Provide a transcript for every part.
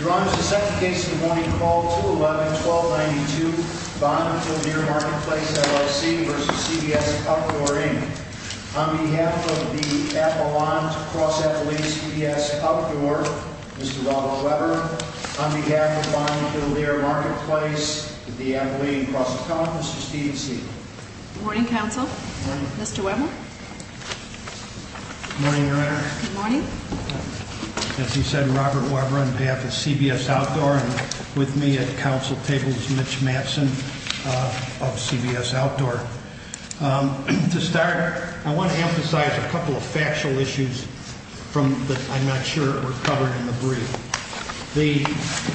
Your Honor, this is the second case of the morning called 2-11-1292 Bond Kildeer Marketplace, LLC v. CBS Outdoor, Inc. On behalf of the Appalachian Cross-Atlantic CBS Outdoor, Mr. Robert Weber On behalf of Bond Kildeer Marketplace, the Appalachian Cross-Atlantic, Mr. Steven Segal Good morning, Counsel. Mr. Weber? Good morning, Your Honor. Good morning. As he said, Robert Weber on behalf of CBS Outdoor and with me at the Counsel table is Mitch Mattson of CBS Outdoor. To start, I want to emphasize a couple of factual issues that I'm not sure were covered in the brief.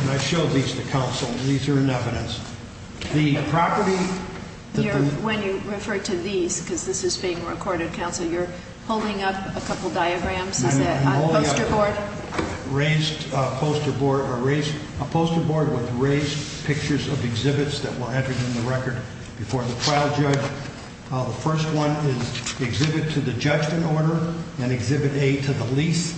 I showed these to Counsel. These are in evidence. The property... When you refer to these, because this is being recorded, Counsel, you're holding up a couple diagrams? Is that a poster board? A poster board with raised pictures of exhibits that were entered in the record before the trial judge. The first one is Exhibit to the Judgment Order and Exhibit A to the Lease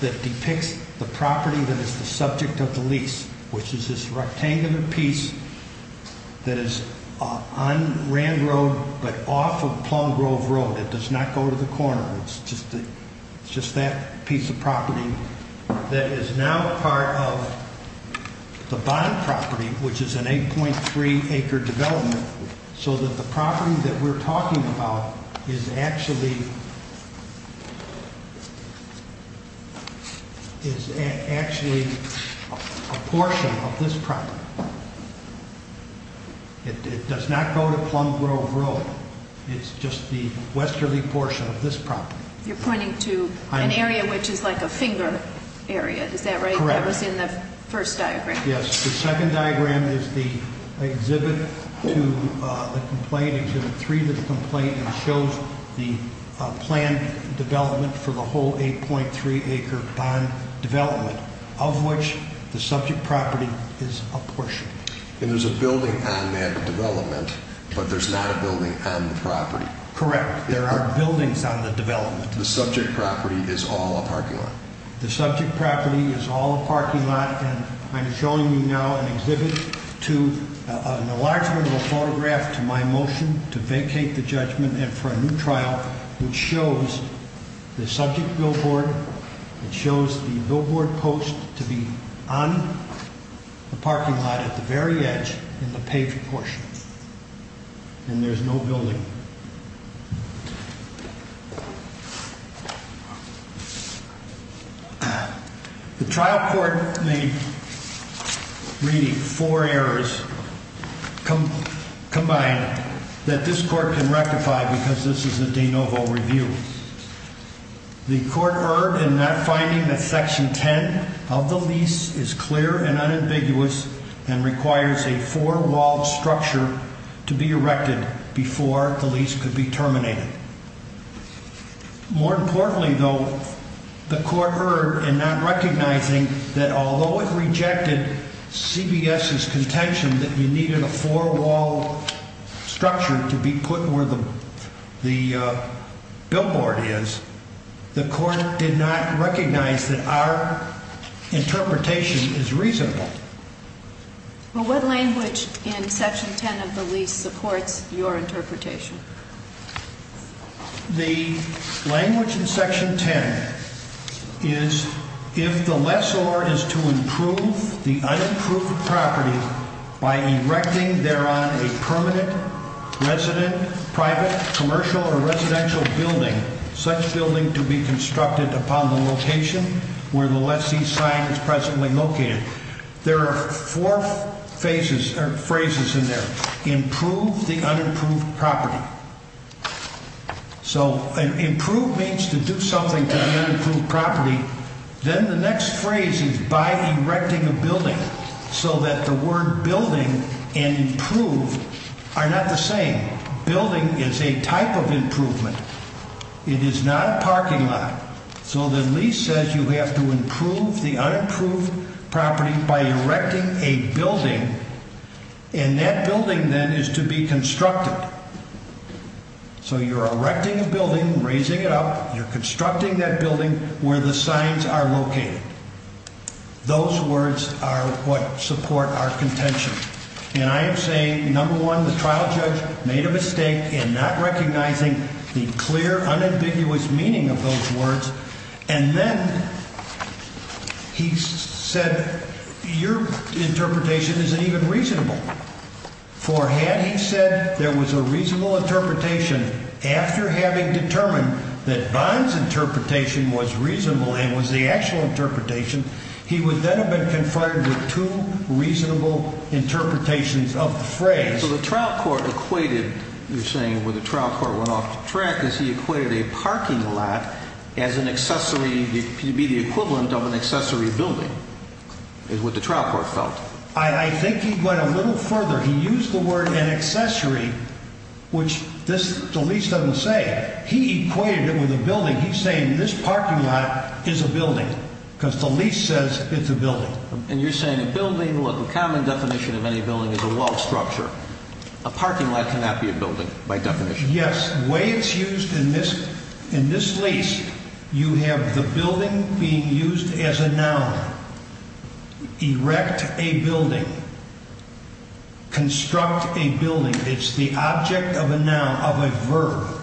that depicts the property that is the subject of the lease, which is this rectangular piece that is on Rand Road but off of Plum Grove Road. It does not go to the corner. It's just that piece of property that is now part of the bond property, which is an 8.3-acre development, so that the property that we're talking about is actually a portion of this property. It does not go to Plum Grove Road. It's just the westerly portion of this property. You're pointing to an area which is like a finger area. Is that right? Correct. That was in the first diagram. Yes. The second diagram is the Exhibit to the Complaint, Exhibit 3 to the Complaint, and shows the planned development for the whole 8.3-acre bond development, of which the subject property is a portion. And there's a building on that development, but there's not a building on the property. Correct. There are buildings on the development. The subject property is all a parking lot. The subject property is all a parking lot, and I'm showing you now an exhibit to an enlargement of a photograph to my motion to vacate the judgment and for a new trial, which shows the subject billboard. It shows the billboard post to be on the parking lot at the very edge in the paved portion, and there's no building. The trial court made, reading four errors combined, that this court can rectify because this is a de novo review. The court erred in finding that Section 10 of the lease is clear and unambiguous and requires a four-walled structure to be erected before the lease could be terminated. More importantly, though, the court erred in not recognizing that although it rejected CBS's contention that we needed a four-walled structure to be put where the billboard is, the court did not recognize that our interpretation is reasonable. What language in Section 10 of the lease supports your interpretation? The language in Section 10 is if the lessor is to improve the unimproved property by erecting thereon a permanent resident, private, commercial, or residential building, such building to be constructed upon the location where the lessee's sign is presently located. There are four phrases in there, improve the unimproved property. So improve means to do something to the unimproved property. Then the next phrase is by erecting a building, so that the word building and improve are not the same. Building is a type of improvement. It is not a parking lot. So the lease says you have to improve the unimproved property by erecting a building, and that building then is to be constructed. So you're erecting a building, raising it up. You're constructing that building where the signs are located. Those words are what support our contention. And I am saying, number one, the trial judge made a mistake in not recognizing the clear, unambiguous meaning of those words, and then he said your interpretation isn't even reasonable. For had he said there was a reasonable interpretation after having determined that Bond's interpretation was reasonable and was the actual interpretation, he would then have been confronted with two reasonable interpretations of the phrase. So the trial court equated, you're saying, when the trial court went off the track, is he equated a parking lot as an accessory to be the equivalent of an accessory building is what the trial court felt. I think he went a little further. He used the word an accessory, which this lease doesn't say. He equated it with a building. And he's saying this parking lot is a building because the lease says it's a building. And you're saying a building, the common definition of any building is a walled structure. A parking lot cannot be a building by definition. Yes. The way it's used in this lease, you have the building being used as a noun. Erect a building. Construct a building. It's the object of a noun, of a verb.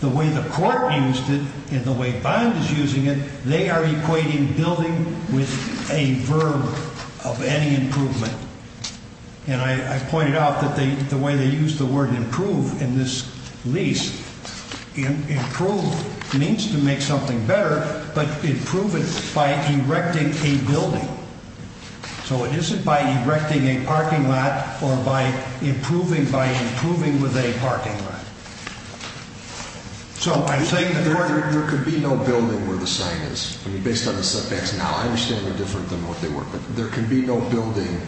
The way the court used it and the way Bond is using it, they are equating building with a verb of any improvement. And I pointed out that the way they used the word improve in this lease, improve means to make something better, but improve it by erecting a building. So it isn't by erecting a parking lot or by improving by improving with a parking lot. There could be no building where the sign is. Based on the setbacks now, I understand they're different than what they were, but there could be no building,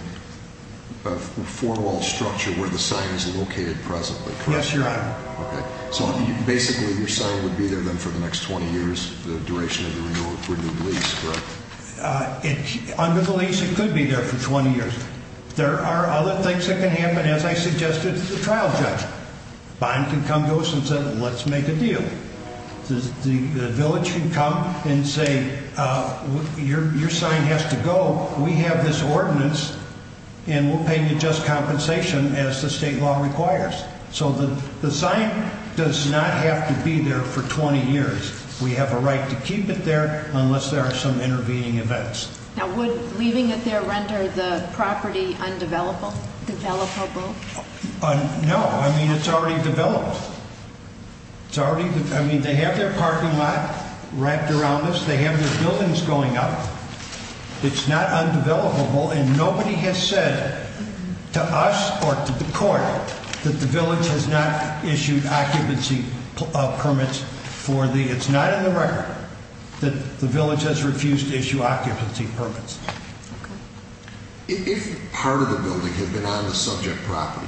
a four-walled structure where the sign is located presently, correct? Yes, Your Honor. Okay. So basically your sign would be there then for the next 20 years, the duration of the renewed lease, correct? Under the lease, it could be there for 20 years. There are other things that can happen, as I suggested to the trial judge. Bond can come to us and say, let's make a deal. The village can come and say, your sign has to go. We have this ordinance, and we'll pay you just compensation as the state law requires. So the sign does not have to be there for 20 years. We have a right to keep it there unless there are some intervening events. Now, would leaving it there render the property undevelopable? No. I mean, it's already developed. I mean, they have their parking lot wrapped around this. They have their buildings going up. It's not undevelopable, and nobody has said to us or to the court that the village has not issued occupancy permits. It's not in the record that the village has refused to issue occupancy permits. Okay. If part of the building had been on the subject property,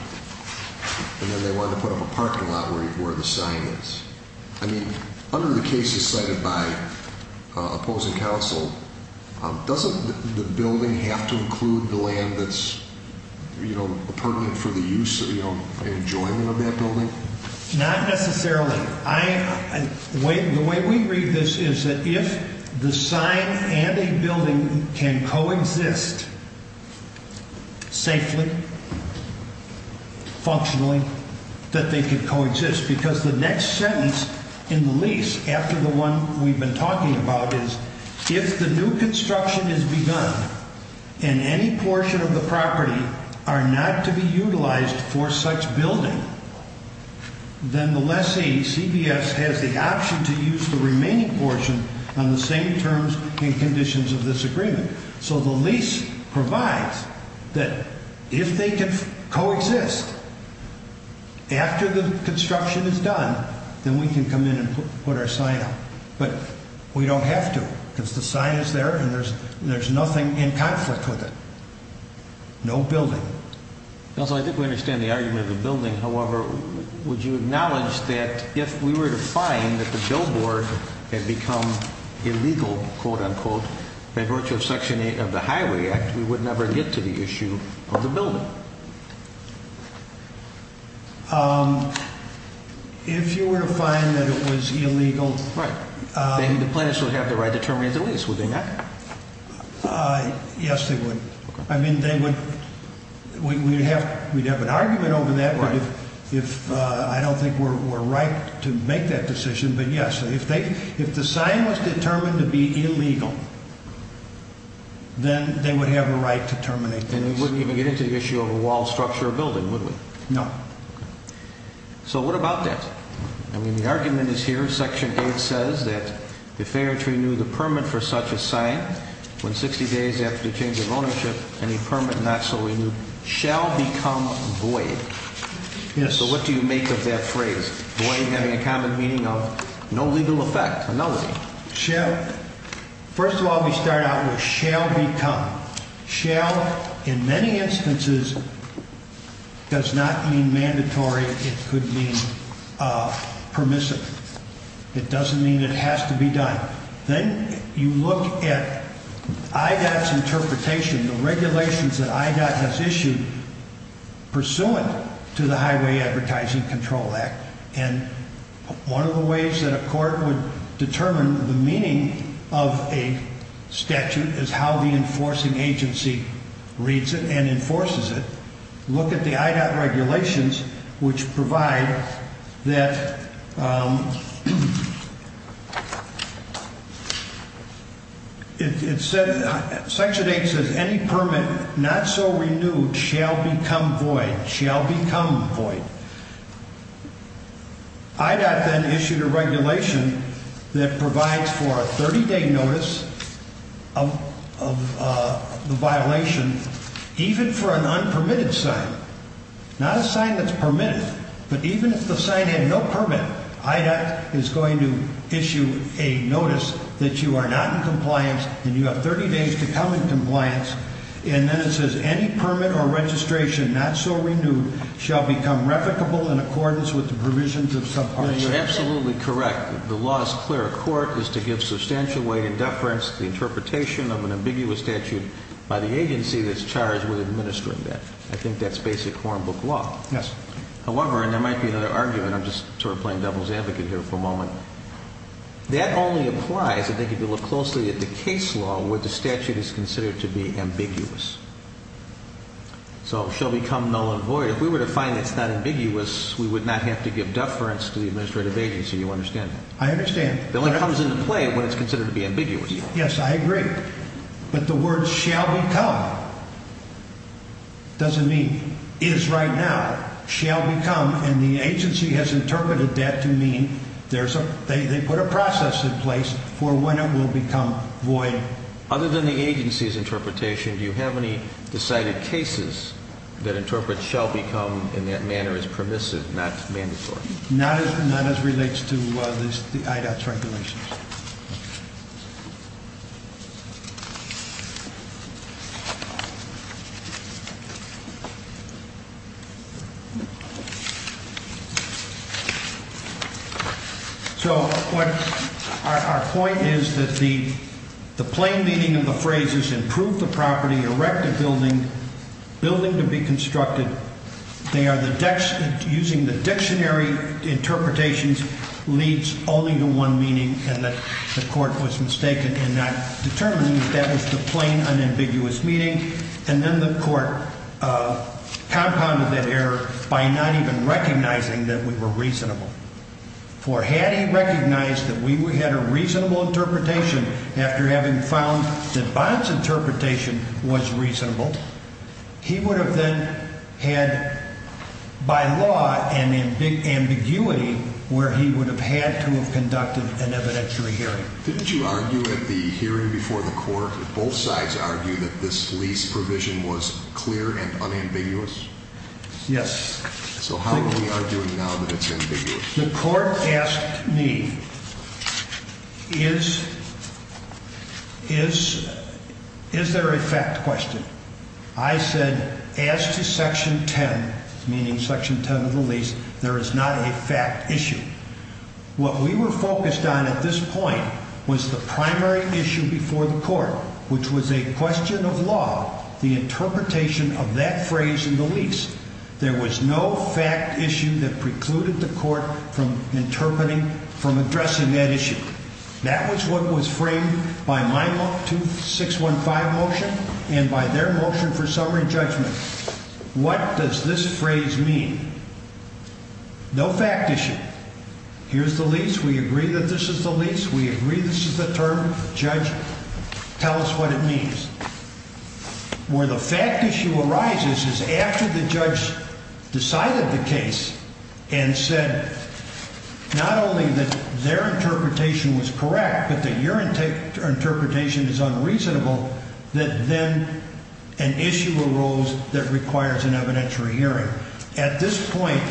and then they wanted to put up a parking lot where the sign is, I mean, under the cases cited by opposing counsel, doesn't the building have to include the land that's, you know, pertinent for the use and enjoyment of that building? Not necessarily. The way we read this is that if the sign and a building can coexist safely, functionally, that they can coexist because the next sentence in the lease after the one we've been talking about is if the new construction has begun and any portion of the property are not to be utilized for such building, then the lessee, CBS, has the option to use the remaining portion on the same terms and conditions of this agreement. So the lease provides that if they can coexist after the construction is done, then we can come in and put our sign up. But we don't have to because the sign is there and there's nothing in conflict with it. No building. Counsel, I think we understand the argument of the building. However, would you acknowledge that if we were to find that the billboard had become illegal, quote-unquote, by virtue of Section 8 of the Highway Act, we would never get to the issue of the building? If you were to find that it was illegal... Right. Then the plaintiffs would have the right to terminate the lease, would they not? Yes, they would. I mean, they would. We'd have an argument over that if I don't think we're right to make that decision, but yes. If the sign was determined to be illegal, then they would have a right to terminate the lease. And we wouldn't even get into the issue of a wall structure or building, would we? No. So what about that? I mean, the argument is here, Section 8 says that if they were to renew the permit for such a sign, when 60 days after the change of ownership, any permit not so renewed shall become void. Yes. So what do you make of that phrase, void having a common meaning of no legal effect, a nullity? First of all, we start out with shall become. Shall, in many instances, does not mean mandatory. It could mean permissible. It doesn't mean it has to be done. Then you look at IDOT's interpretation, the regulations that IDOT has issued pursuant to the Highway Advertising Control Act. And one of the ways that a court would determine the meaning of a statute is how the enforcing agency reads it and enforces it. Look at the IDOT regulations, which provide that it said, Section 8 says any permit not so renewed shall become void. Shall become void. IDOT then issued a regulation that provides for a 30-day notice of the violation, even for an unpermitted sign, not a sign that's permitted. But even if the sign had no permit, IDOT is going to issue a notice that you are not in compliance and you have 30 days to come in compliance. And then it says any permit or registration not so renewed shall become revocable in accordance with the provisions of subpart C. You're absolutely correct. The law is clear. A court is to give substantial weight and deference to the interpretation of an ambiguous statute by the agency that's charged with administering that. I think that's basic hornbook law. Yes. However, and there might be another argument. I'm just sort of playing devil's advocate here for a moment. That only applies if they could look closely at the case law where the statute is considered to be ambiguous. So shall become null and void. If we were to find it's not ambiguous, we would not have to give deference to the administrative agency. You understand that? I understand. It only comes into play when it's considered to be ambiguous. Yes, I agree. But the word shall become doesn't mean is right now, shall become, and the agency has interpreted that to mean they put a process in place for when it will become void. Other than the agency's interpretation, do you have any decided cases that interpret shall become in that manner as permissive, not mandatory? Not as relates to the IDOT's regulations. So our point is that the plain meaning of the phrase is improve the property, erect a building, building to be constructed. Using the dictionary interpretations leads only to one meaning, and the court was mistaken in not determining that was the plain unambiguous meaning. And then the court compounded that error by not even recognizing that we were reasonable. For had he recognized that we had a reasonable interpretation after having found that Bob's interpretation was reasonable, he would have then had, by law, an ambiguity where he would have had to have conducted an evidentiary hearing. Didn't you argue at the hearing before the court that both sides argued that this lease provision was clear and unambiguous? Yes. So how are we arguing now that it's ambiguous? The court asked me, is there a fact question? I said, as to Section 10, meaning Section 10 of the lease, there is not a fact issue. What we were focused on at this point was the primary issue before the court, which was a question of law, the interpretation of that phrase in the lease. There was no fact issue that precluded the court from interpreting, from addressing that issue. That was what was framed by my 2615 motion and by their motion for summary judgment. What does this phrase mean? No fact issue. Here's the lease. We agree that this is the lease. We agree this is the term. Judge, tell us what it means. Where the fact issue arises is after the judge decided the case and said not only that their interpretation was correct but that your interpretation is unreasonable, that then an issue arose that requires an evidentiary hearing. At this point,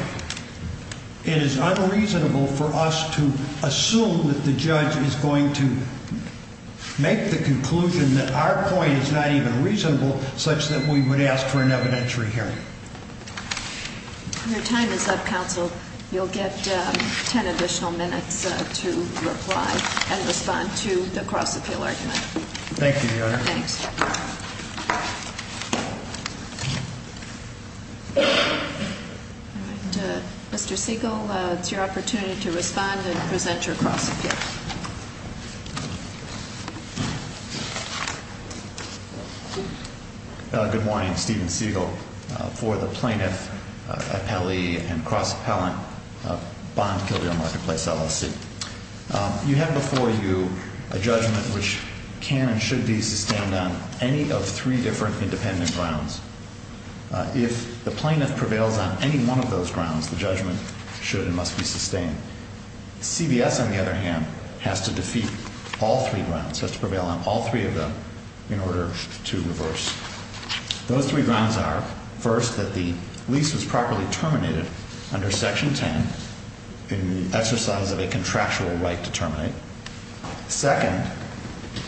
it is unreasonable for us to assume that the judge is going to make the conclusion that our point is not even reasonable such that we would ask for an evidentiary hearing. Your time is up, counsel. You'll get ten additional minutes to reply and respond to the cross-appeal argument. Thank you, Your Honor. Thanks. All right. Mr. Siegel, it's your opportunity to respond and present your cross-appeal. Good morning. Steven Siegel for the Plaintiff, Appellee, and Cross-Appellant Bond-Gilded Marketplace LLC. You have before you a judgment which can and should be sustained on any of three different independent grounds. If the plaintiff prevails on any one of those grounds, the judgment should and must be sustained. CVS, on the other hand, has to defeat all three grounds, has to prevail on all three of them in order to reverse. Those three grounds are, first, that the lease was properly terminated under Section 10 in the exercise of a contractual right to terminate. Second,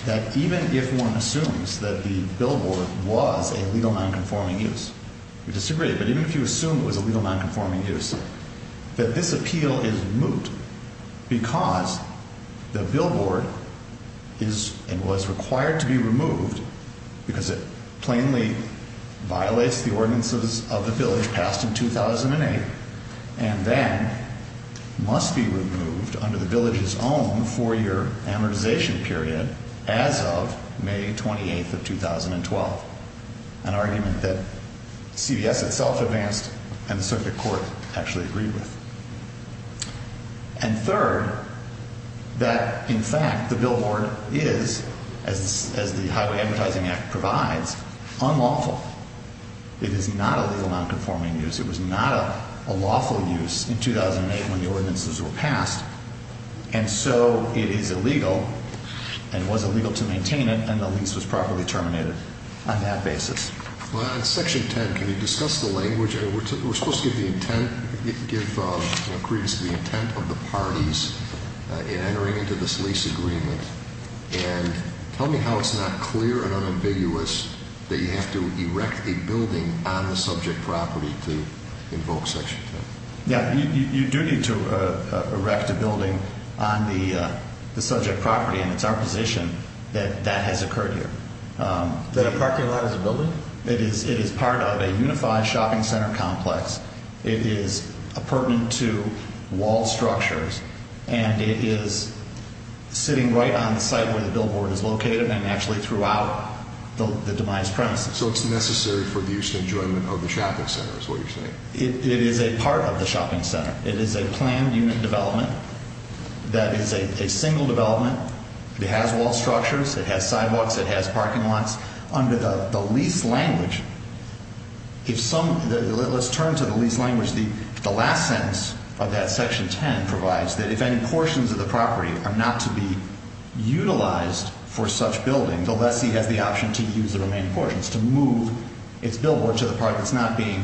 that even if one assumes that the billboard was a legal nonconforming use, we disagree, but even if you assume it was a legal nonconforming use, that this appeal is moot because the billboard is and was required to be removed because it plainly violates the ordinances of the village passed in 2008 and then must be removed under the village's own four-year amortization period as of May 28th of 2012, an argument that CVS itself advanced and the circuit court actually agreed with. And third, that, in fact, the billboard is, as the Highway Advertising Act provides, unlawful. It is not a legal nonconforming use. It was not a lawful use in 2008 when the ordinances were passed, and so it is illegal and was illegal to maintain it, and the lease was properly terminated. On that basis. Well, on Section 10, can you discuss the language? We're supposed to give the intent, give credence to the intent of the parties in entering into this lease agreement, and tell me how it's not clear and unambiguous that you have to erect a building on the subject property to invoke Section 10. You do need to erect a building on the subject property, and it's our position that that has occurred here. Is that a parking lot as a building? It is part of a unified shopping center complex. It is pertinent to wall structures, and it is sitting right on the site where the billboard is located and actually throughout the demised premises. So it's necessary for the use and enjoyment of the shopping center is what you're saying? It is a part of the shopping center. It is a planned unit development that is a single development. It has wall structures. It has sidewalks. It has parking lots. Under the lease language, if some — let's turn to the lease language. The last sentence of that Section 10 provides that if any portions of the property are not to be utilized for such building, the lessee has the option to use the remaining portions, to move its billboard to the part that's not being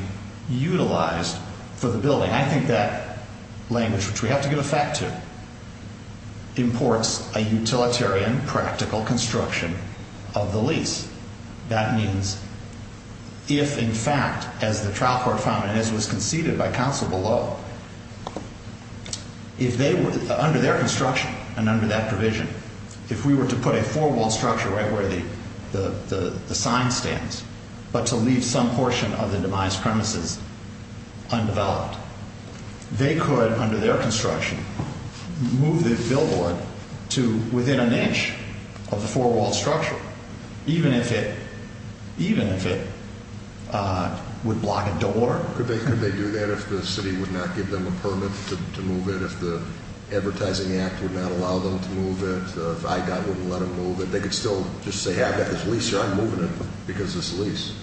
utilized for the building. I think that language, which we have to give effect to, imports a utilitarian, practical construction of the lease. That means if, in fact, as the trial court found and as was conceded by counsel below, if they were — under their construction and under that provision, if we were to put a four-wall structure right where the sign stands but to leave some portion of the demised premises undeveloped, they could, under their construction, move the billboard to within an inch of the four-wall structure, even if it would block a door. Could they do that if the city would not give them a permit to move it? If the Advertising Act would not allow them to move it? If IGOT wouldn't let them move it? They could still just say, yeah, I've got this lease here. I'm moving it because of this lease.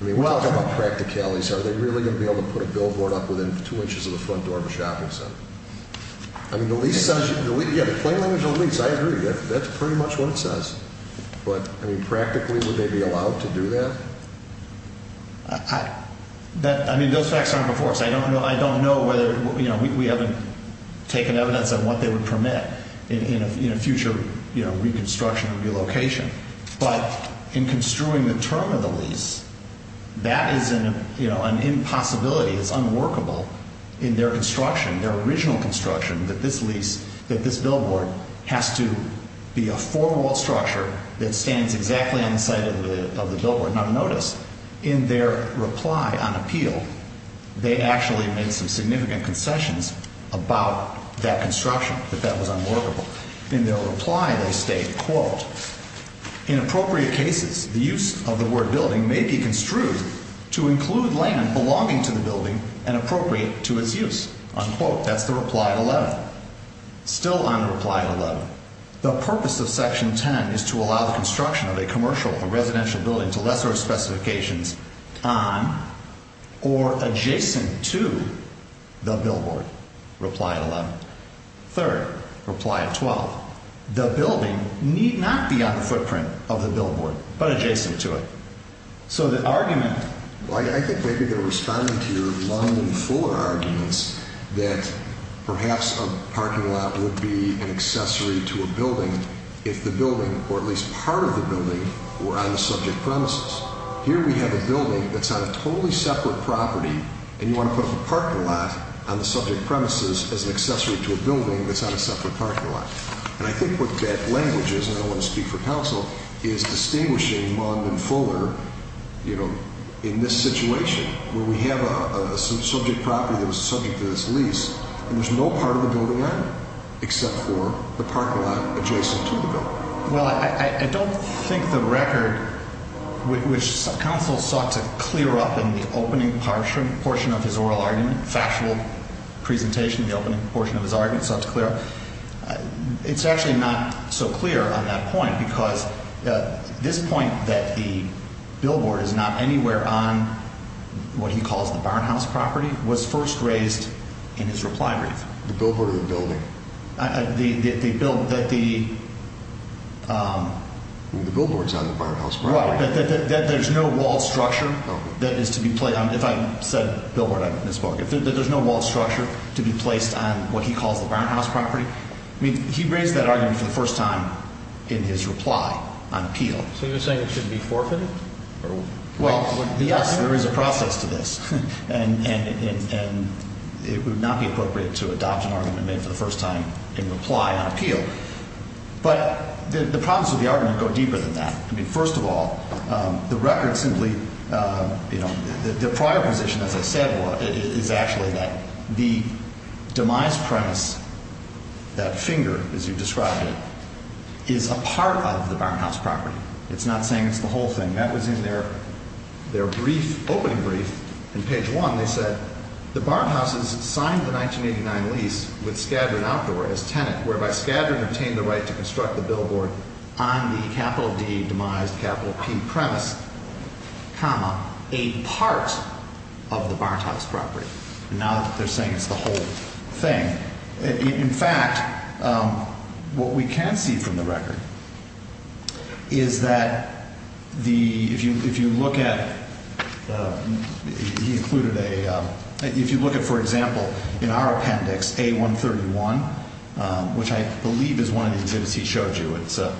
I mean, when we talk about practicalities, are they really going to be able to put a billboard up within two inches of the front door of a shopping center? I mean, the lease — yeah, the plain language of the lease, I agree. That's pretty much what it says. But, I mean, practically, would they be allowed to do that? I mean, those facts aren't before us. I don't know whether — you know, we haven't taken evidence of what they would permit in a future reconstruction or relocation. But in construing the term of the lease, that is an impossibility. It's unworkable in their construction, their original construction, that this lease, that this billboard has to be a four-wall structure that stands exactly on the side of the billboard. Now, notice, in their reply on appeal, they actually made some significant concessions about that construction, that that was unworkable. In their reply, they state, quote, In appropriate cases, the use of the word building may be construed to include land belonging to the building and appropriate to its use. Unquote. That's the reply at 11. Still on the reply at 11. The purpose of Section 10 is to allow the construction of a commercial or residential building to lesser of specifications on or adjacent to the billboard. Reply at 11. Third, reply at 12. The building need not be on the footprint of the billboard, but adjacent to it. So the argument —— arguments that perhaps a parking lot would be an accessory to a building if the building, or at least part of the building, were on the subject premises. Here we have a building that's on a totally separate property, and you want to put a parking lot on the subject premises as an accessory to a building that's on a separate parking lot. And I think what that language is, and I don't want to speak for counsel, is distinguishing Mung and Fuller, you know, in this situation, where we have a subject property that was subject to this lease, and there's no part of the building on it, except for the parking lot adjacent to the building. Well, I don't think the record, which counsel sought to clear up in the opening portion of his oral argument, factual presentation in the opening portion of his argument sought to clear up, it's actually not so clear on that point, because this point that the billboard is not anywhere on what he calls the barnhouse property was first raised in his reply brief. The billboard or the building? The bill — that the — The billboard's on the barnhouse property. There's no walled structure that is to be — if I said billboard, I misspoke. There's no walled structure to be placed on what he calls the barnhouse property. I mean, he raised that argument for the first time in his reply on appeal. So you're saying it should be forfeited? Well, yes, there is a process to this, and it would not be appropriate to adopt an argument made for the first time in reply on appeal. But the problems with the argument go deeper than that. I mean, first of all, the record simply — you know, the prior position, as I said, is actually that the demise premise, that finger, as you described it, is a part of the barnhouse property. It's not saying it's the whole thing. That was in their brief, opening brief. In page 1, they said, And now they're saying it's the whole thing. In fact, what we can see from the record is that the — if you look at — he included a — if you look at, for example, in our appendix, A131, which I believe is one of the exhibits he showed you, it's an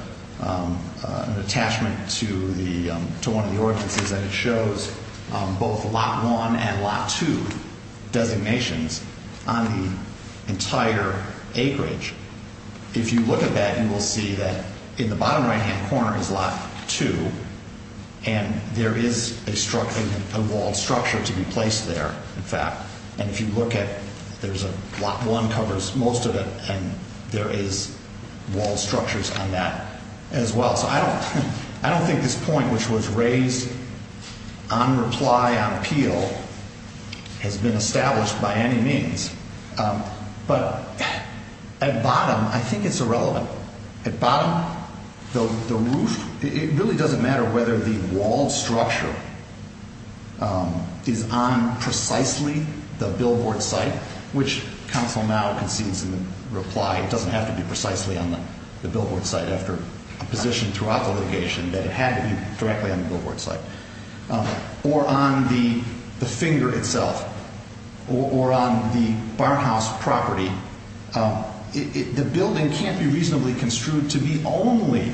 attachment to the — to one of the ordinances, and it shows both Lot 1 and Lot 2 designations on the entire acreage. If you look at that, you will see that in the bottom right-hand corner is Lot 2, and there is a walled structure to be placed there, in fact. And if you look at — there's a — Lot 1 covers most of it, and there is walled structures on that as well. So I don't — I don't think this point, which was raised on reply, on appeal, has been established by any means. But at bottom, I think it's irrelevant. At bottom, the roof, it really doesn't matter whether the walled structure is on precisely the billboard site, which counsel now concedes in the reply, it doesn't have to be precisely on the billboard site after a position throughout litigation that it had to be directly on the billboard site, or on the finger itself, or on the barnhouse property. The building can't be reasonably construed to be only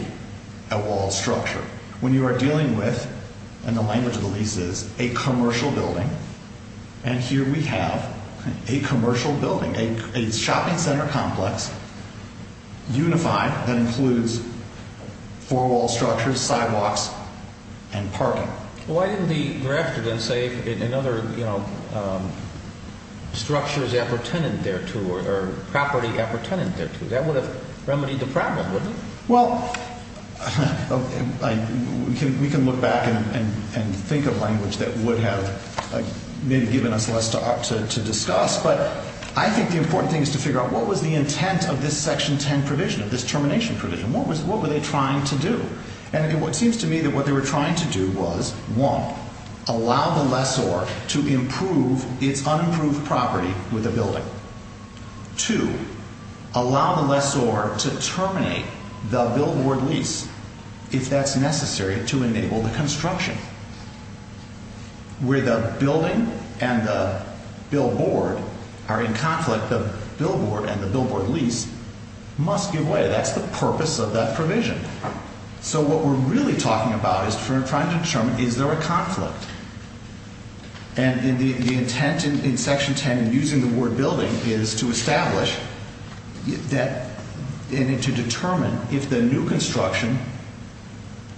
a walled structure. When you are dealing with — and the language of the lease is a commercial building, and here we have a commercial building. It's a shopping center complex, unified, that includes four-wall structures, sidewalks, and parking. Why didn't he draft it and say another structure is appurtenant thereto, or property appurtenant thereto? That would have remedied the problem, wouldn't it? Well, we can look back and think of language that would have maybe given us less to discuss. But I think the important thing is to figure out what was the intent of this Section 10 provision, of this termination provision. What were they trying to do? And it seems to me that what they were trying to do was, one, allow the lessor to improve its unimproved property with the building. Two, allow the lessor to terminate the billboard lease, if that's necessary, to enable the construction. Where the building and the billboard are in conflict, the billboard and the billboard lease must give way. That's the purpose of that provision. So what we're really talking about is we're trying to determine, is there a conflict? And the intent in Section 10 in using the word building is to establish and to determine if the new construction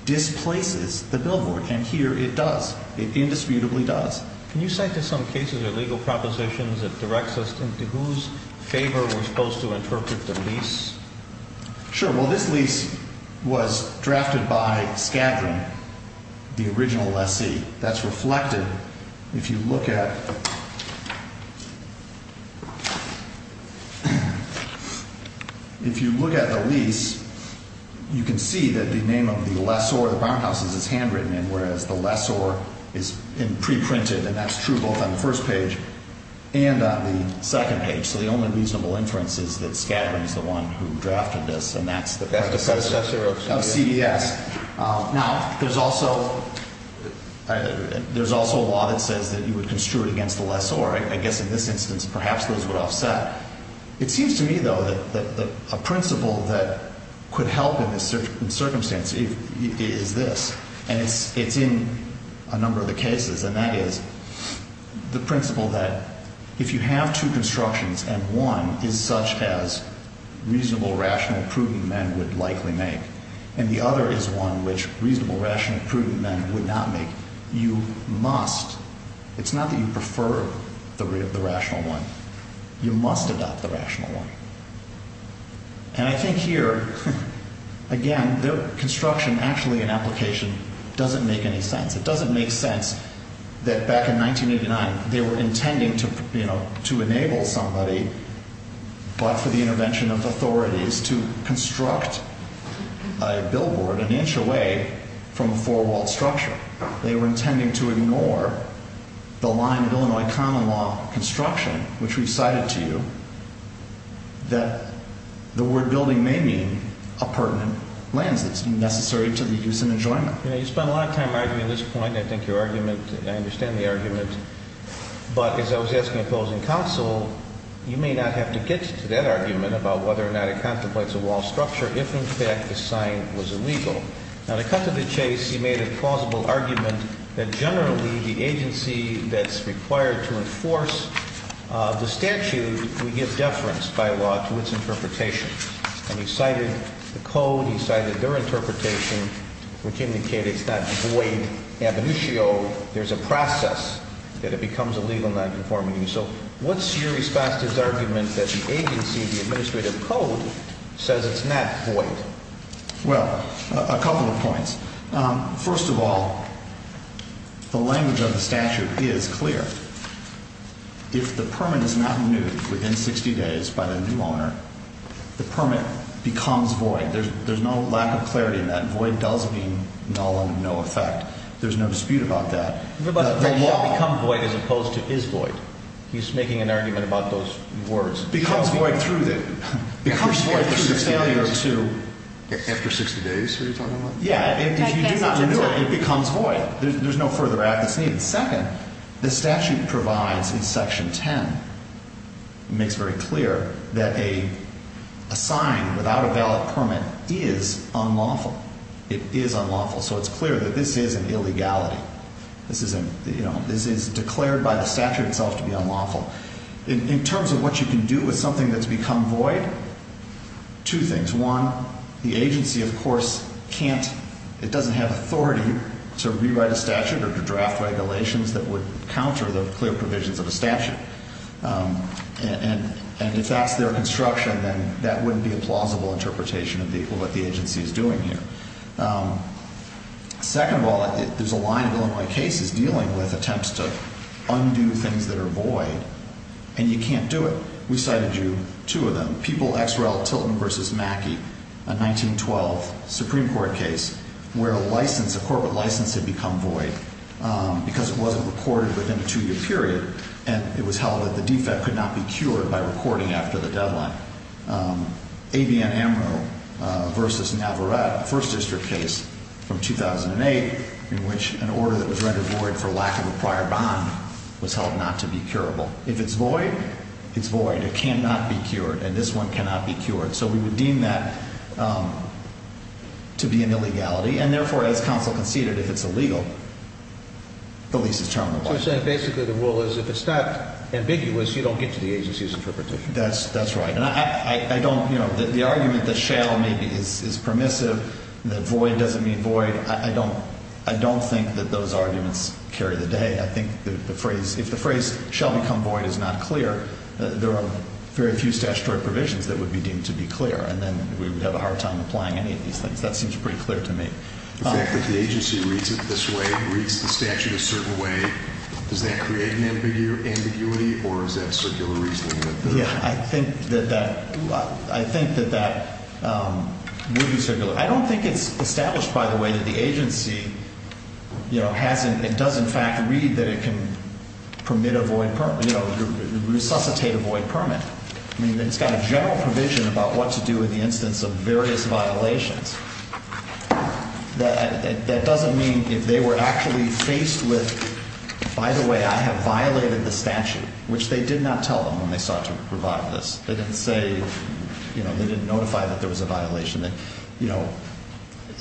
displaces the billboard. And here it does. It indisputably does. Can you cite some cases or legal propositions that direct us into whose favor we're supposed to interpret the lease? Sure. Well, this lease was drafted by Scadran, the original lessee. That's reflected. If you look at the lease, you can see that the name of the lessor of the barnhouses is handwritten in, whereas the lessor is preprinted, and that's true both on the first page and on the second page. So the only reasonable inference is that Scadran is the one who drafted this, and that's the predecessor of CBS. Now, there's also a law that says that you would construe it against the lessor. I guess in this instance perhaps those would offset. It seems to me, though, that a principle that could help in this circumstance is this, and it's in a number of the cases, and that is the principle that if you have two constructions and one is such as reasonable, rational, prudent men would likely make, and the other is one which reasonable, rational, prudent men would not make, you must. It's not that you prefer the rational one. You must adopt the rational one. And I think here, again, the construction actually in application doesn't make any sense. It doesn't make sense that back in 1989 they were intending to enable somebody, but for the intervention of authorities, to construct a billboard an inch away from a four-walled structure. They were intending to ignore the line of Illinois common law construction, which we've cited to you, that the word building may mean a pertinent lens that's necessary to the use and enjoyment. You know, you spend a lot of time arguing this point. I think your argument, I understand the argument. But as I was asking opposing counsel, you may not have to get to that argument about whether or not it contemplates a walled structure if in fact the sign was illegal. Now, to cut to the chase, you made a plausible argument that generally the agency that's required to enforce the statute would give deference by law to its interpretation. And you cited the code. You cited their interpretation, which indicated it's not void ab initio. There's a process that it becomes illegal nonconformity. So what's your response to this argument that the agency, the administrative code, says it's not void? Well, a couple of points. First of all, the language of the statute is clear. If the permit is not renewed within 60 days by the new owner, the permit becomes void. There's no lack of clarity in that. Void does mean null and no effect. There's no dispute about that. But the law becomes void as opposed to is void. He's making an argument about those words. Becomes void through the failure to. After 60 days are you talking about? Yeah, if you do not renew it, it becomes void. There's no further act that's needed. Second, the statute provides in Section 10, makes very clear that a sign without a valid permit is unlawful. It is unlawful. So it's clear that this is an illegality. This is declared by the statute itself to be unlawful. In terms of what you can do with something that's become void, two things. One, the agency, of course, can't. It doesn't have authority to rewrite a statute or to draft regulations that would counter the clear provisions of a statute. And if that's their construction, then that wouldn't be a plausible interpretation of what the agency is doing here. Second of all, there's a line of Illinois cases dealing with attempts to undo things that are void. And you can't do it. We cited you, two of them. The People-Xrell-Tilton v. Mackey, a 1912 Supreme Court case where a license, a corporate license had become void because it wasn't recorded within a two-year period. And it was held that the defect could not be cured by recording after the deadline. ABN-AMRO v. Navarrette, a First District case from 2008 in which an order that was rendered void for lack of a prior bond was held not to be curable. It cannot be cured. And this one cannot be cured. So we would deem that to be an illegality. And therefore, as counsel conceded, if it's illegal, the lease is terminable. So you're saying basically the rule is if it's not ambiguous, you don't get to the agency's interpretation. That's right. And I don't, you know, the argument that shall maybe is permissive, that void doesn't mean void, I don't think that those arguments carry the day. I think the phrase, if the phrase shall become void is not clear, there are very few statutory provisions that would be deemed to be clear. And then we would have a hard time applying any of these things. That seems pretty clear to me. The fact that the agency reads it this way, reads the statute a certain way, does that create an ambiguity or is that circular reasoning? I don't think it's established by the way that the agency, you know, has and does in fact read that it can permit a void, you know, resuscitate a void permit. I mean, it's got a general provision about what to do in the instance of various violations. That doesn't mean if they were actually faced with, by the way, I have violated the statute, which they did not tell them when they sought to provide this. They didn't say, you know, they didn't notify that there was a violation that, you know,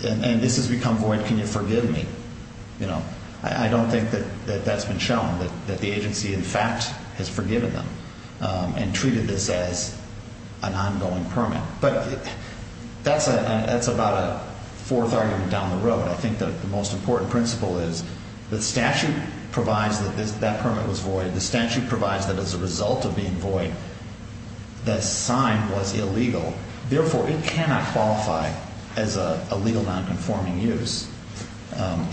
and this has become void, can you forgive me? You know, I don't think that that's been shown, that the agency in fact has forgiven them and treated this as an ongoing permit. But that's a, that's about a fourth argument down the road. I think that the most important principle is the statute provides that that permit was void. The statute provides that as a result of being void, the sign was illegal. Therefore, it cannot qualify as a legal nonconforming use.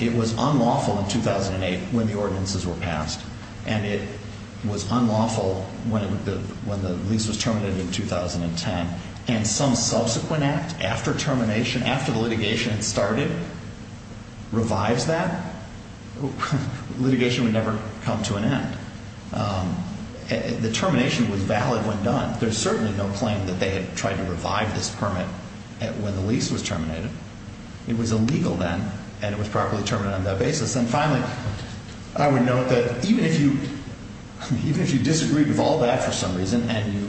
It was unlawful in 2008 when the ordinances were passed and it was unlawful when the lease was terminated in 2010. And some subsequent act after termination, after the litigation had started, revives that. Litigation would never come to an end. The termination was valid when done. There's certainly no claim that they had tried to revive this permit when the lease was terminated. It was illegal then and it was properly terminated on that basis. And finally, I would note that even if you, even if you disagreed with all that for some reason, and you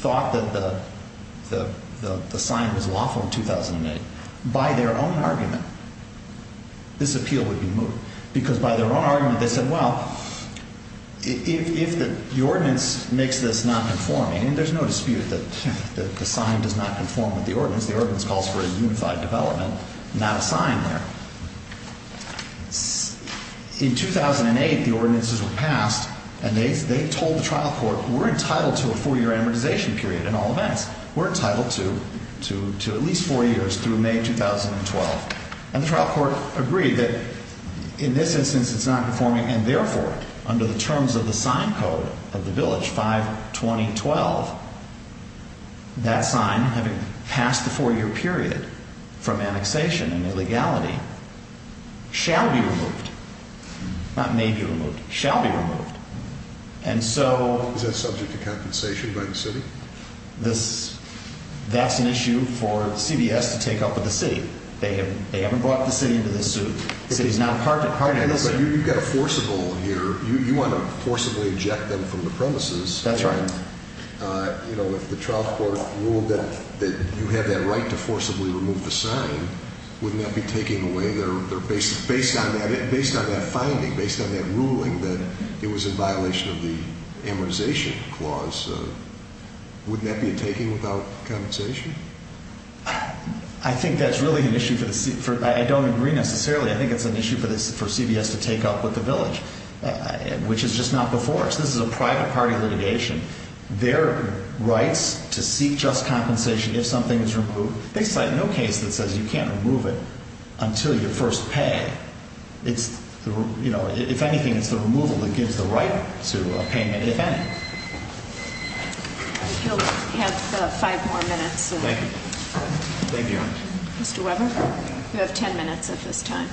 thought that the sign was lawful in 2008, by their own argument, this appeal would be moved. Because by their own argument, they said, well, if the ordinance makes this nonconforming, and there's no dispute that the sign does not conform with the ordinance, the ordinance calls for a unified development, not a sign there. In 2008, the ordinances were passed and they told the trial court, we're entitled to a four-year amortization period in all events. We're entitled to at least four years through May 2012. And the trial court agreed that in this instance, it's nonconforming, and therefore, under the terms of the sign code of the village, 5-20-12, that sign, having passed the four-year period from annexation and illegality, shall be removed. Not may be removed, shall be removed. And so... Is that subject to compensation by the city? That's an issue for CBS to take up with the city. They haven't brought the city into this suit. The city's not a partner in this. But you've got a forcible here. You want to forcibly eject them from the premises. That's right. You know, if the trial court ruled that you have that right to forcibly remove the sign, wouldn't that be taking away their... Based on that finding, based on that ruling that it was in violation of the amortization clause, wouldn't that be a taking without compensation? I think that's really an issue for the... I don't agree necessarily. I think it's an issue for CBS to take up with the village, which is just not before us. This is a private party litigation. Their rights to seek just compensation if something is removed... They cite no case that says you can't remove it until you first pay. It's... You know, if anything, it's the removal that gives the right to a payment, if any. You'll have five more minutes. Thank you. Thank you. Mr. Weber? You have ten minutes at this time.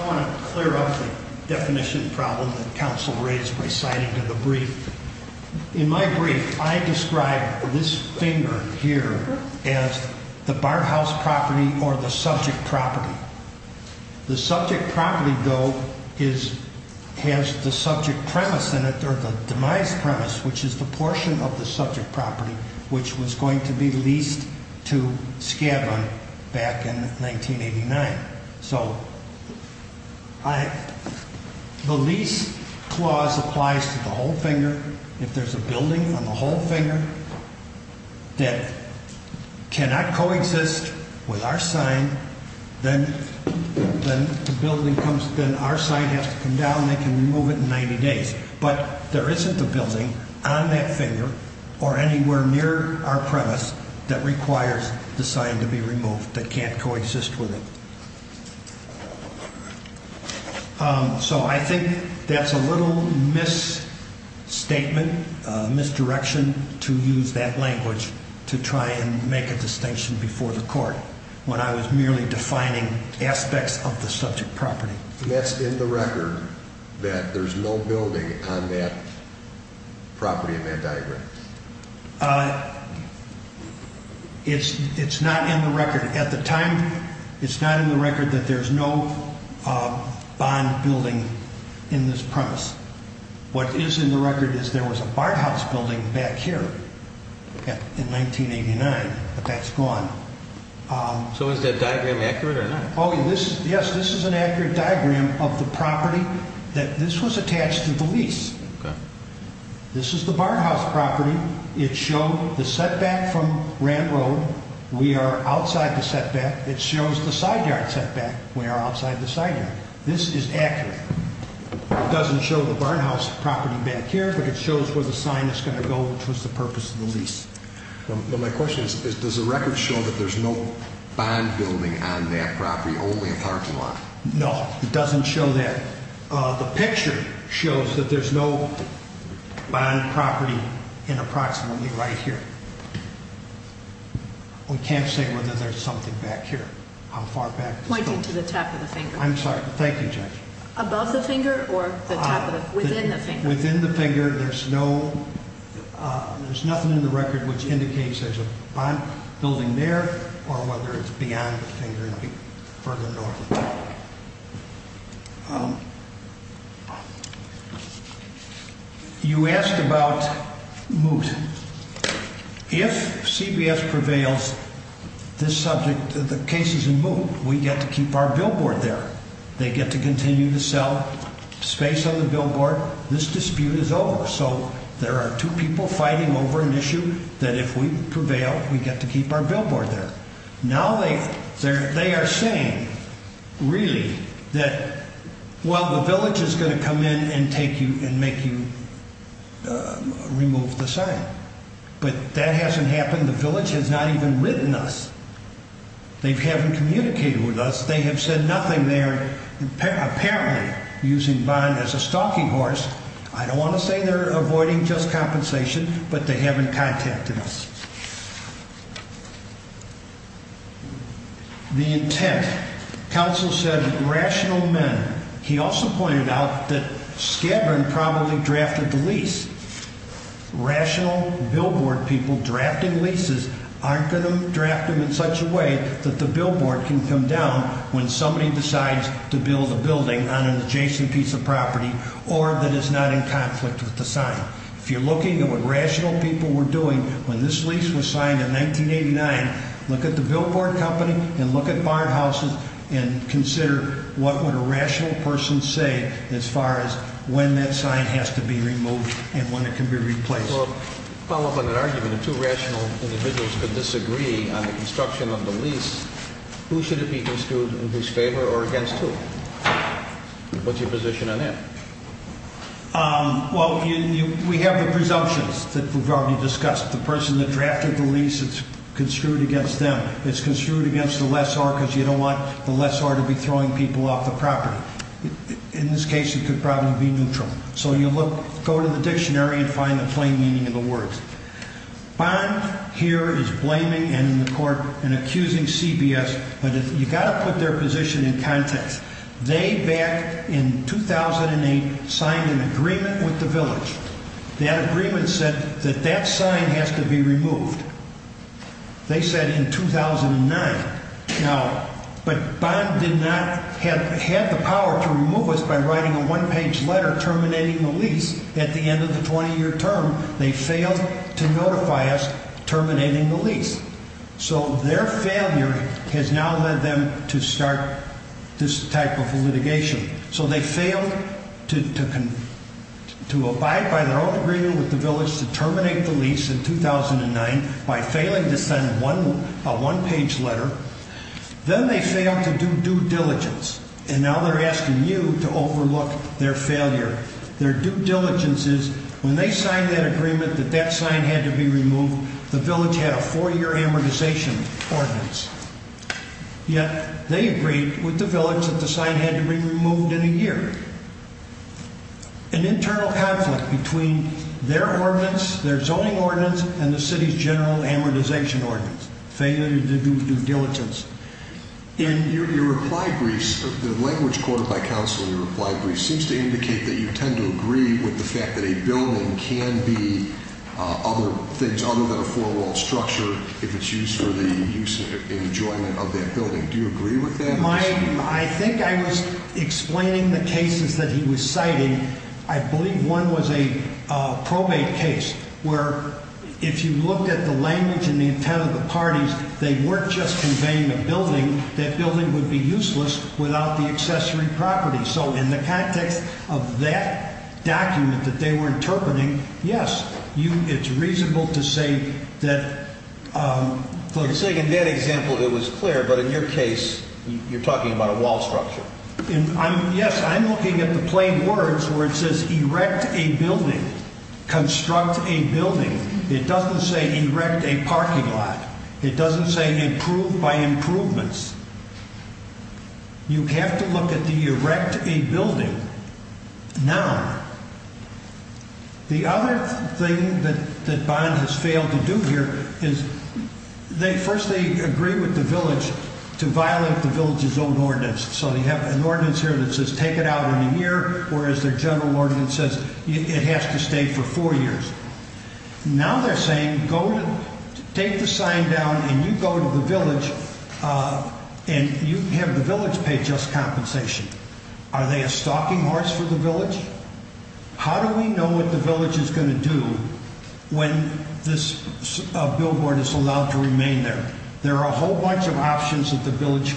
I want to clear up the definition problem that counsel raised by citing to the brief. In my brief, I describe this finger here as the bar house property or the subject property. The subject property, though, has the subject premise in it, or the demise premise, which is the portion of the subject property which was going to be leased to Skadden back in 1989. So the lease clause applies to the whole finger. If there's a building on the whole finger that cannot coexist with our sign, then our sign has to come down and they can remove it in 90 days. But there isn't a building on that finger or anywhere near our premise that requires the sign to be removed that can't coexist with it. So I think that's a little misstatement, misdirection to use that language to try and make a distinction before the court when I was merely defining aspects of the subject property. That's in the record that there's no building on that property in that diagram? It's not in the record. At the time, it's not in the record that there's no bond building in this premise. What is in the record is there was a bar house building back here in 1989, but that's gone. So is that diagram accurate or not? Oh, yes, this is an accurate diagram of the property that this was attached to the lease. This is the bar house property. It showed the setback from Grant Road. We are outside the setback. It shows the side yard setback. We are outside the side yard. This is accurate. It doesn't show the bar house property back here, but it shows where the sign is going to go, which was the purpose of the lease. Well, my question is, does the record show that there's no bond building on that property, only a parking lot? No, it doesn't show that. The picture shows that there's no bond property in approximately right here. We can't say whether there's something back here, how far back this goes. Pointing to the top of the finger. I'm sorry. Thank you, Judge. Above the finger or within the finger? Within the finger. There's nothing in the record which indicates there's a bond building there or whether it's beyond the finger and further north. You asked about moot. If CBS prevails, the case is in moot. We get to keep our billboard there. They get to continue to sell space on the billboard. This dispute is over. So there are two people fighting over an issue that if we prevail, we get to keep our billboard there. Now they are saying, really, that, well, the village is going to come in and make you remove the sign. But that hasn't happened. The village has not even written us. They haven't communicated with us. They have said nothing. They're apparently using bond as a stalking horse. I don't want to say they're avoiding just compensation, but they haven't contacted us. The intent. Counsel said rational men. He also pointed out that Skadden probably drafted the lease. Rational billboard people drafting leases aren't going to draft them in such a way that the billboard can come down when somebody decides to build a building on an adjacent piece of property or that is not in conflict with the sign. If you're looking at what rational people were doing when this lease was signed in 1989, look at the billboard company and look at barn houses and consider what would a rational person say as far as when that sign has to be removed and when it can be replaced. Well, to follow up on that argument, if two rational individuals could disagree on the construction of the lease, who should it be construed in whose favor or against who? What's your position on that? Well, we have the presumptions that we've already discussed. The person that drafted the lease, it's construed against them. It's construed against the lessor because you don't want the lessor to be throwing people off the property. In this case, it could probably be neutral. So you go to the dictionary and find the plain meaning of the words. Barn here is blaming and in the court and accusing CBS, but you've got to put their position in context. They back in 2008 signed an agreement with the village. That agreement said that that sign has to be removed. They said in 2009. Now, but Barn did not have the power to remove us by writing a one-page letter terminating the lease at the end of the 20-year term. They failed to notify us terminating the lease. So their failure has now led them to start this type of litigation. So they failed to abide by their own agreement with the village to terminate the lease in 2009 by failing to send a one-page letter. Then they failed to do due diligence. And now they're asking you to overlook their failure. Their due diligence is when they signed that agreement that that sign had to be removed, the village had a four-year amortization ordinance. Yet they agreed with the village that the sign had to be removed in a year. An internal conflict between their ordinance, their zoning ordinance, and the city's general amortization ordinance. Failure to due diligence. Your reply briefs, the language quoted by counsel in your reply briefs seems to indicate that you tend to agree with the fact that a building can be other things other than a four-wall structure if it's used for the use and enjoyment of that building. Do you agree with that? I think I was explaining the cases that he was citing. I believe one was a probate case where if you looked at the language and the intent of the parties, they weren't just conveying the building. That building would be useless without the accessory property. So in the context of that document that they were interpreting, yes, it's reasonable to say that. You're saying in that example it was clear, but in your case you're talking about a wall structure. Yes, I'm looking at the plain words where it says erect a building, construct a building. It doesn't say erect a parking lot. It doesn't say improve by improvements. You have to look at the erect a building. Now, the other thing that Bond has failed to do here is first they agree with the village to violate the village's own ordinance. So you have an ordinance here that says take it out in a year, whereas their general ordinance says it has to stay for four years. Now they're saying take the sign down and you go to the village and you have the village pay just compensation. Are they a stalking horse for the village? How do we know what the village is going to do when this billboard is allowed to remain there? There are a whole bunch of options that the village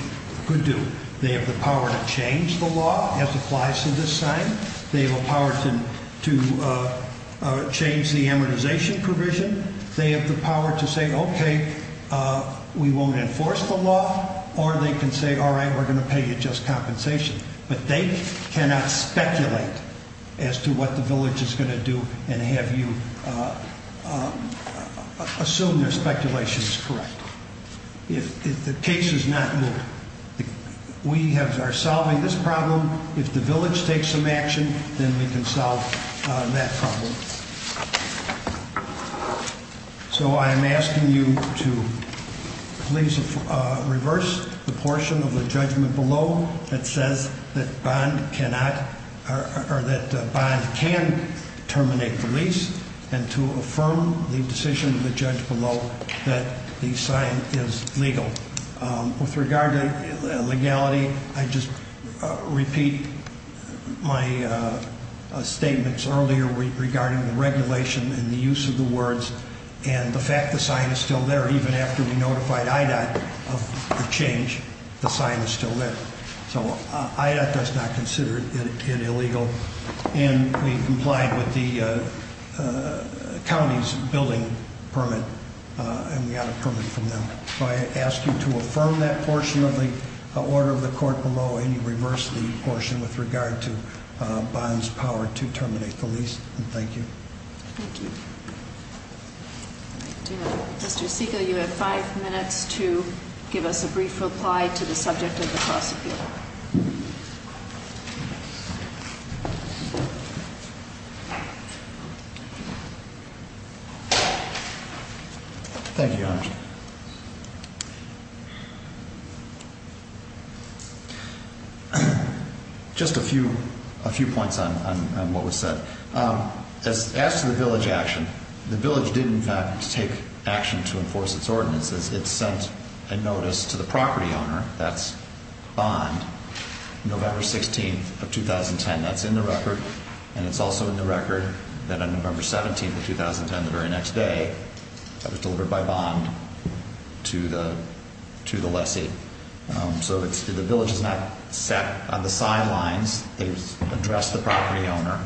could do. They have the power to change the law as applies to this sign. They have the power to change the amortization provision. They have the power to say, okay, we won't enforce the law, or they can say, all right, we're going to pay you just compensation. But they cannot speculate as to what the village is going to do and have you assume their speculation is correct. If the case is not moved, we are solving this problem. If the village takes some action, then we can solve that problem. So I'm asking you to please reverse the portion of the judgment below that says that bond cannot or that bond can terminate the lease and to affirm the decision of the judge below that the sign is legal. With regard to legality, I just repeat my statements earlier regarding the regulation and the use of the words and the fact the sign is still there even after we notified IDOT of the change, the sign is still there. So IDOT does not consider it illegal and we complied with the county's billing permit and we got a permit from them. So I ask you to affirm that portion of the order of the court below and we reverse the portion with regard to bond's power to terminate the lease, and thank you. Thank you. Mr. Segal, you have five minutes to give us a brief reply to the subject of the prosecution. Thank you, Your Honor. Just a few points on what was said. As to the village action, the village did in fact take action to enforce its ordinances. It sent a notice to the property owner, that's bond, November 16th of 2010. That's in the record and it's also in the record that on November 17th of 2010, the very next day, that was delivered by bond to the lessee. So the village is not sat on the sidelines. They addressed the property owner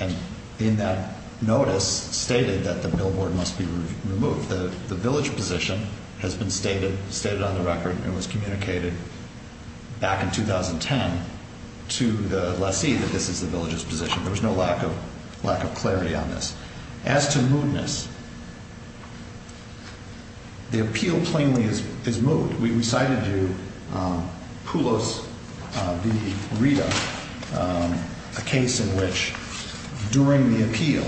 and in that notice stated that the billboard must be removed. The village position has been stated on the record and was communicated back in 2010 to the lessee that this is the village's position. There was no lack of clarity on this. As to moodness, the appeal plainly is moot. We cited to you Poulos v. Rita, a case in which during the appeal,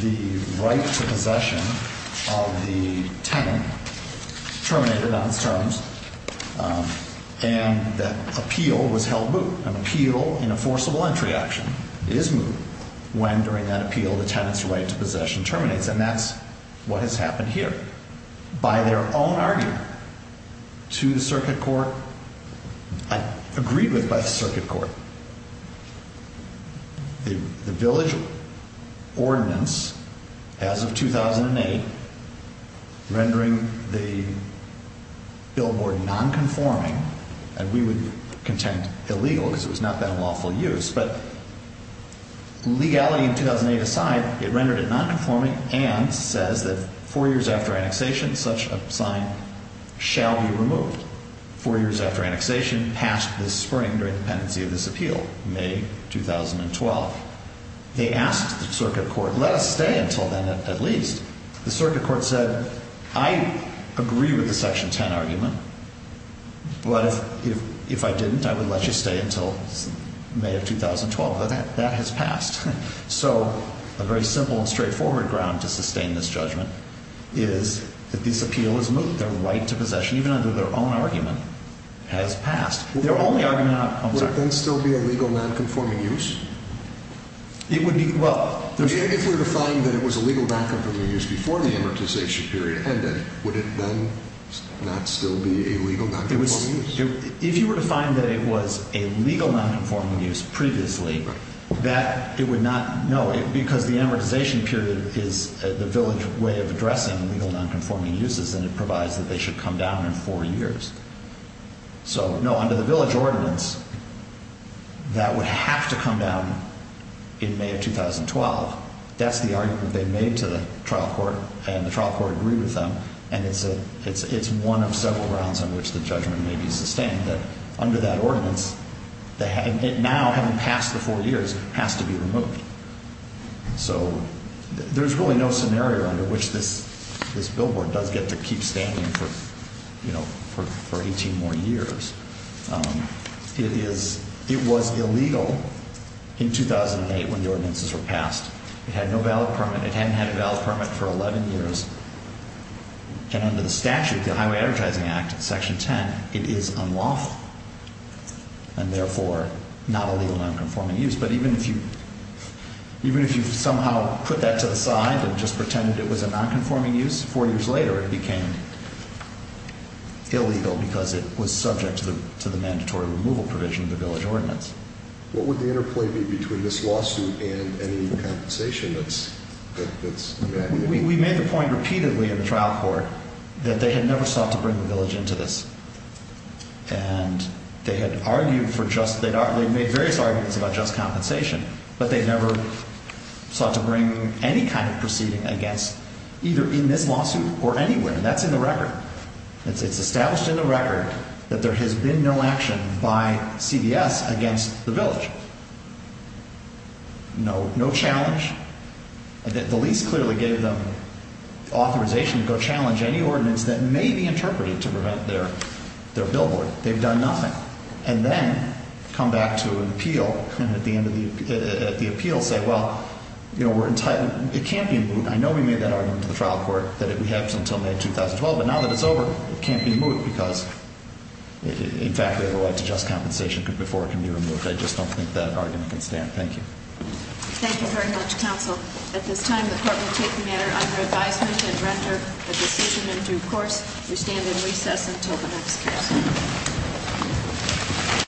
the right to possession of the tenant terminated on its terms, and that appeal was held moot. An appeal in a forcible entry action is moot when during that appeal the tenant's right to possession terminates, and that's what has happened here. By their own argument to the circuit court, agreed with by the circuit court, the village ordinance, as of 2008, rendering the billboard nonconforming, and we would contend illegal because it was not that lawful use, but legality in 2008 aside, it rendered it nonconforming and says that four years after annexation such a sign shall be removed. Four years after annexation, passed this spring during the pendency of this appeal, May 2012. They asked the circuit court, let us stay until then at least. The circuit court said, I agree with the section 10 argument, but if I didn't, I would let you stay until May of 2012. That has passed. So a very simple and straightforward ground to sustain this judgment is that this appeal is moot. Their right to possession, even under their own argument, has passed. Would it then still be a legal nonconforming use? If we were to find that it was a legal nonconforming use before the amortization period ended, would it then not still be a legal nonconforming use? If you were to find that it was a legal nonconforming use previously, That it would not, no, because the amortization period is the village way of addressing legal nonconforming uses, and it provides that they should come down in four years. So, no, under the village ordinance, that would have to come down in May of 2012. That's the argument they made to the trial court, and the trial court agreed with them, and it's one of several grounds on which the judgment may be sustained, that under that ordinance, it now, having passed the four years, has to be removed. So there's really no scenario under which this billboard does get to keep standing for 18 more years. It was illegal in 2008 when the ordinances were passed. It had no valid permit. It hadn't had a valid permit for 11 years. And under the statute, the Highway Advertising Act, Section 10, it is unlawful, and therefore, not a legal nonconforming use. But even if you somehow put that to the side and just pretended it was a nonconforming use, four years later, it became illegal because it was subject to the mandatory removal provision of the village ordinance. What would the interplay be between this lawsuit and any compensation that's evacuated? We made the point repeatedly in the trial court that they had never sought to bring the village into this. And they had argued for just, they'd made various arguments about just compensation, but they never sought to bring any kind of proceeding against either in this lawsuit or anywhere, and that's in the record. It's established in the record that there has been no action by CVS against the village. No challenge. The lease clearly gave them authorization to go challenge any ordinance that may be interpreted to prevent their billboard. They've done nothing. And then come back to an appeal, and at the end of the appeal say, well, you know, we're entitled, it can't be moot. I know we made that argument to the trial court that it would happen until May 2012, but now that it's over, it can't be moot because, in fact, we have a right to just compensation before it can be removed. I just don't think that argument can stand. Thank you. Thank you very much, counsel. At this time, the court will take the matter under advisement and render a decision in due course. We stand in recess until the next case.